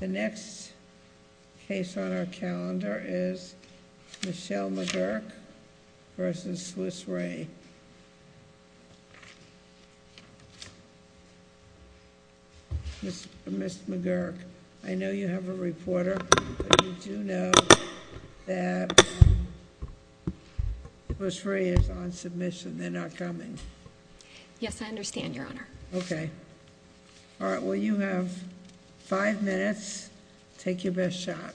The next case on our calendar is Michele McGuirk v. Swiss Re. Ms. McGuirk, I know you have a reporter, but you do know that Swiss Re is on submission. They're not coming. Yes, I understand, Your Honor. Okay, all right, well you have five minutes. Take your best shot.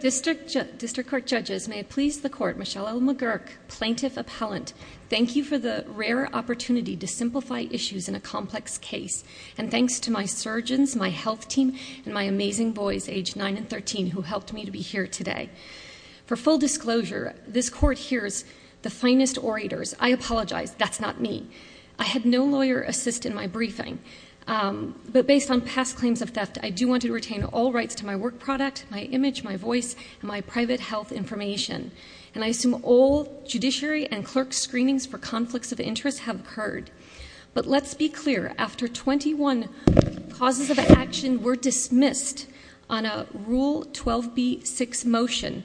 District Court Judges, may it please the Court, Michele L. McGuirk, Plaintiff Appellant, thank you for the rare opportunity to simplify issues in a complex case, and thanks to my surgeons, my health team, and my amazing boys, age nine and 13, who helped me to be here today. For full disclosure, this Court hears the finest orators. I apologize, that's not me. I had no lawyer assist in my briefing, but based on past claims of theft, I do want to retain all rights to my work product, my image, my voice, and my private health information. And I assume all judiciary and clerk screenings for conflicts of interest have occurred. But let's be clear, after 21 causes of action were dismissed on a Rule 12b-6 motion,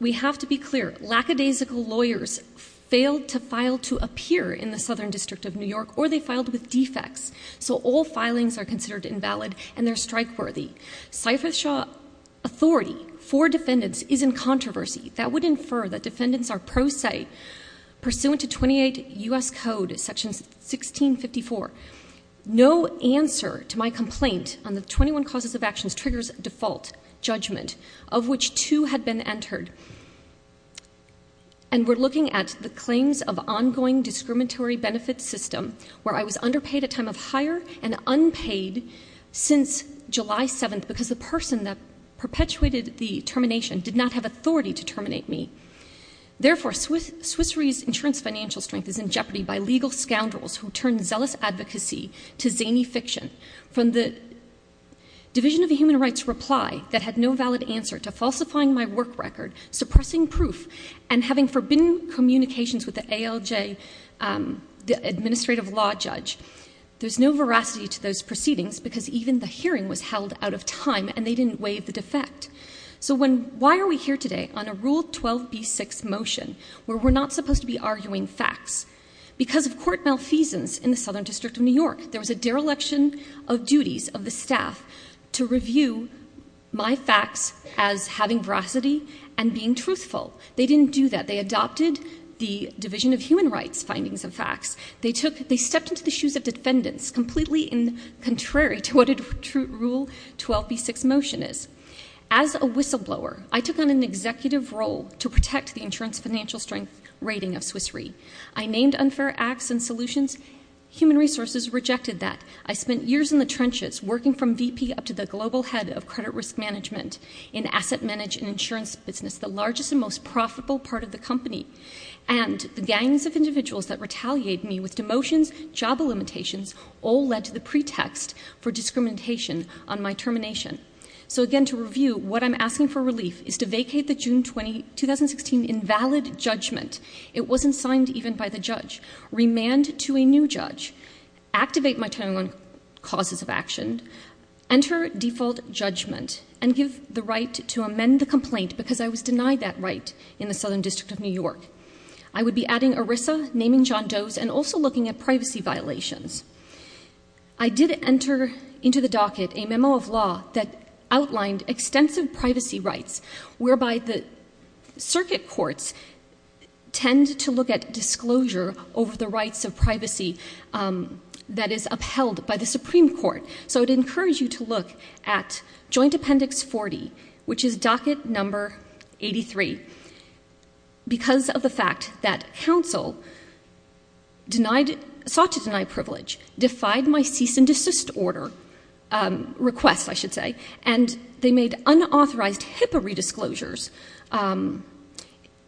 we have to be clear, lackadaisical lawyers failed to file to appear in the Southern District of New York, or they filed with defects. So all filings are considered invalid, and they're strike-worthy. Cypress Shaw authority for defendants is in controversy. That would infer that defendants are pro se, pursuant to 28 U.S. Code, Section 1654. No answer to my complaint on the 21 causes of actions triggers default judgment, of which two had been entered. And we're looking at the claims of ongoing discriminatory benefits system, where I was underpaid at time of hire and unpaid since July 7th, because the person that perpetuated the termination did not have authority to terminate me. Therefore, Swiss Re's insurance financial strength is in jeopardy by legal scoundrels who turn zealous advocacy to zany fiction. From the Division of the Human Rights Reply that had no valid answer to falsifying my work record, suppressing proof, and having forbidden communications with the ALJ, the Administrative Law Judge, there's no veracity to those proceedings, because even the hearing was held out of time, and they didn't waive the defect. So why are we here today on a Rule 12b-6 motion, where we're not supposed to be arguing facts? Because of court malfeasance in the Southern District of New York, there my facts as having veracity and being truthful. They didn't do that. They adopted the Division of Human Rights findings of facts. They stepped into the shoes of defendants, completely contrary to what a Rule 12b-6 motion is. As a whistleblower, I took on an executive role to protect the insurance financial strength rating of Swiss Re. I named unfair acts and solutions. Human Resources rejected that. I spent years in the trenches, working from VP up to the global head of credit risk management in asset management and insurance business, the largest and most profitable part of the company. And the gangs of individuals that retaliated me with demotions, job limitations, all led to the pretext for discrimination on my termination. So again, to review, what I'm asking for relief is to vacate the June 20, 2016 invalid judgment — it wasn't signed even by the judge — remand to a new judge, activate my timing on causes of action, enter default judgment, and give the right to amend the complaint, because I was denied that right in the Southern District of New York. I would be adding ERISA, naming John Doe's, and also looking at privacy violations. I did enter into the docket a memo of law that outlined extensive privacy rights, whereby the circuit courts tend to look at disclosure over the rights of privacy that is upheld by the Supreme Court. So I'd encourage you to look at Joint Appendix 40, which is docket number 83. Because of the fact that counsel sought to deny privilege, defied my cease and desist order — request, I should say — and they made unauthorized HIPAA redisclosures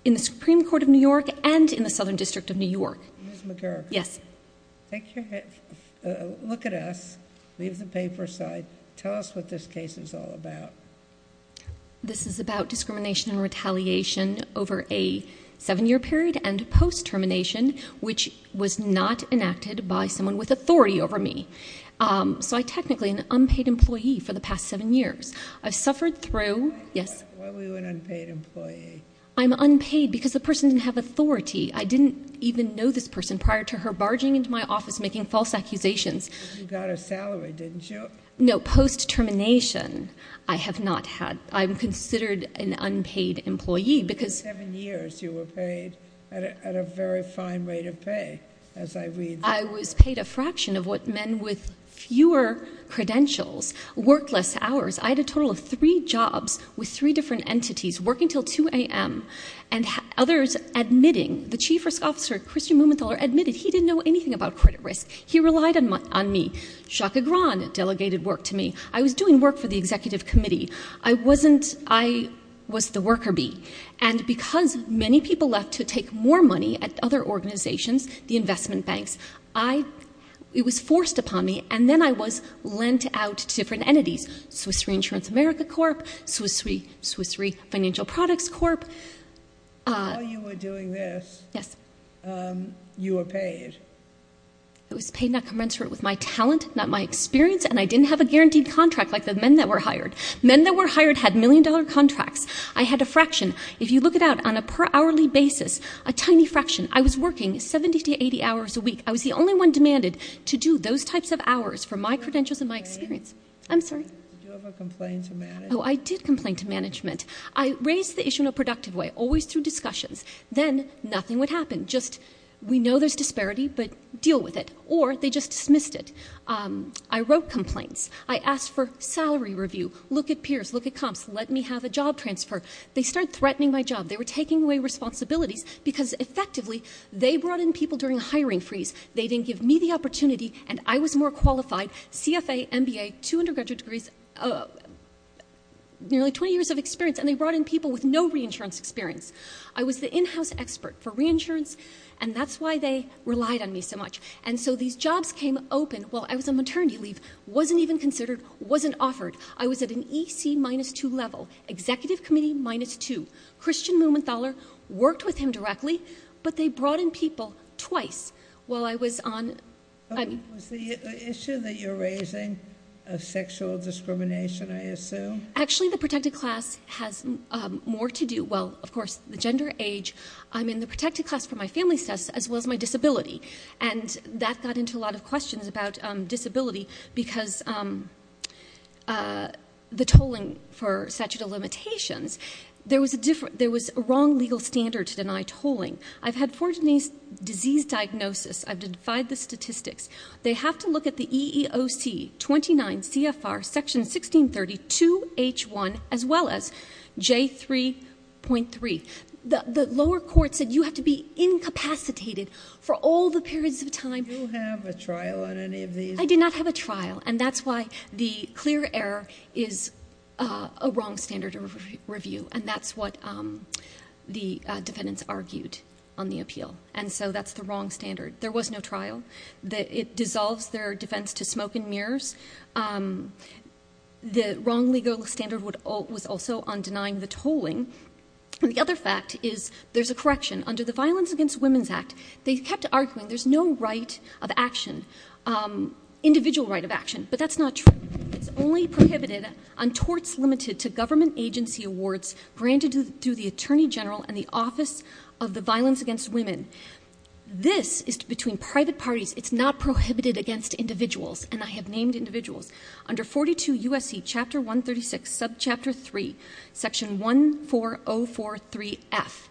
in the Supreme Court of New York and in the Supreme Court of New York. Ms. McGurk, look at us, leave the paper aside, tell us what this case is all about. This is about discrimination and retaliation over a seven-year period and post-termination, which was not enacted by someone with authority over me. So I'm technically an unpaid employee for the past seven years. I've suffered through — Why were you an unpaid employee? I'm unpaid because the person didn't have authority. I didn't even know this person prior to her barging into my office making false accusations. But you got a salary, didn't you? No, post-termination, I have not had — I'm considered an unpaid employee because — For seven years, you were paid at a very fine rate of pay, as I read. I was paid a fraction of what men with fewer credentials, work less hours. I had a total of three jobs with three different entities, working until 2 a.m., and others admitting — the chief risk officer, Christian Mumenthaler, admitted he didn't know anything about credit risk. He relied on me. Jacques Agran delegated work to me. I was doing work for the executive committee. I wasn't — I was the worker bee. And because many people left to take more money at other organizations, the investment banks, I — it was forced upon me, and then I was lent out to different entities — Swiss Reinsurance America Corp., Swiss Re — Swiss Re Financial Products Corp. While you were doing this — Yes. — you were paid. I was paid not commensurate with my talent, not my experience, and I didn't have a guaranteed contract like the men that were hired. Men that were hired had million-dollar contracts. I had a fraction. If you look it out, on a per-hourly basis, a tiny fraction. I was working 70 to 80 hours a week. I was the only one demanded to do those types of hours for my I'm sorry? Did you ever complain to management? Oh, I did complain to management. I raised the issue in a productive way, always through discussions. Then nothing would happen. Just, we know there's disparity, but deal with it. Or they just dismissed it. I wrote complaints. I asked for salary review. Look at peers. Look at comps. Let me have a job transfer. They started threatening my job. They were taking away responsibilities because, effectively, they brought in people during a hiring freeze. They didn't give me the opportunity, and I was more qualified. CFA, MBA, two undergraduate degrees, nearly 20 years of experience, and they brought in people with no reinsurance experience. I was the in-house expert for reinsurance, and that's why they relied on me so much. And so these jobs came open while I was on maternity leave, wasn't even considered, wasn't offered. I was at an EC minus two level, executive committee minus two. Christian Mumenthaler worked with him directly, but they brought in people twice while I was on... Was the issue that you're raising a sexual discrimination, I assume? Actually, the protected class has more to do... Well, of course, the gender, age. I'm in the protected class for my family status, as well as my disability. And that got into a lot of questions about disability because the tolling for statute of limitations, there was a wrong legal standard to deny tolling. I've had four disease diagnoses. I've defied the statistics. They have to look at the EEOC 29 CFR section 1632H1, as well as J3.3. The lower court said you have to be incapacitated for all the periods of time. Did you have a trial on any of these? I did not have a trial, and that's why the clear error is a wrong standard of review, and that's what the defendants argued on the appeal. And so that's the wrong standard. There was no trial. It dissolves their defense to smoke and mirrors. The wrong legal standard was also on denying the tolling. And the other fact is there's a correction. Under the Violence Against Women's Act, they kept arguing there's no right of action, individual right of action, but that's not true. It's only prohibited on torts limited to government agency awards granted to the Attorney General and the Office of the Violence Against Women. This is between private parties. It's not prohibited against individuals, and I have named individuals. Under 42 U.S.C. Chapter 136, Subchapter 3, Section 14043F,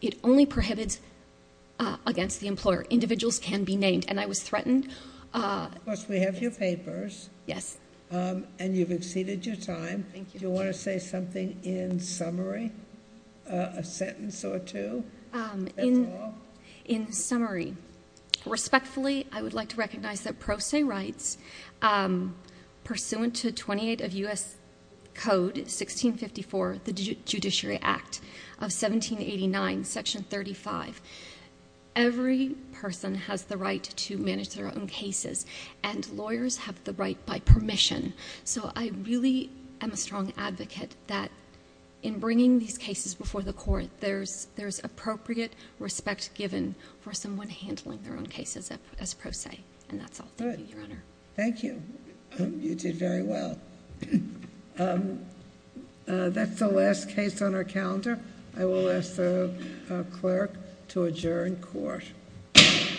it only prohibits against the employer. Individuals can be named, and I was threatened. Of course, we have your papers. Yes. And you've exceeded your time. Thank you. Do you want to say something in summary, a sentence or two? In summary, respectfully, I would like to recognize that pro se rights pursuant to 28 of U.S. Code 1654, the Judiciary Act of 1789, Section 35, every person has the right to manage their own cases, and lawyers have the right by permission. So I really am a strong advocate that in bringing these cases before the court, there's appropriate respect given for someone handling their own cases as pro se, and that's all. Thank you, Your Honor. Thank you. You did very well. That's the last case on our calendar. I will ask the clerk to adjourn court. Court is adjourned.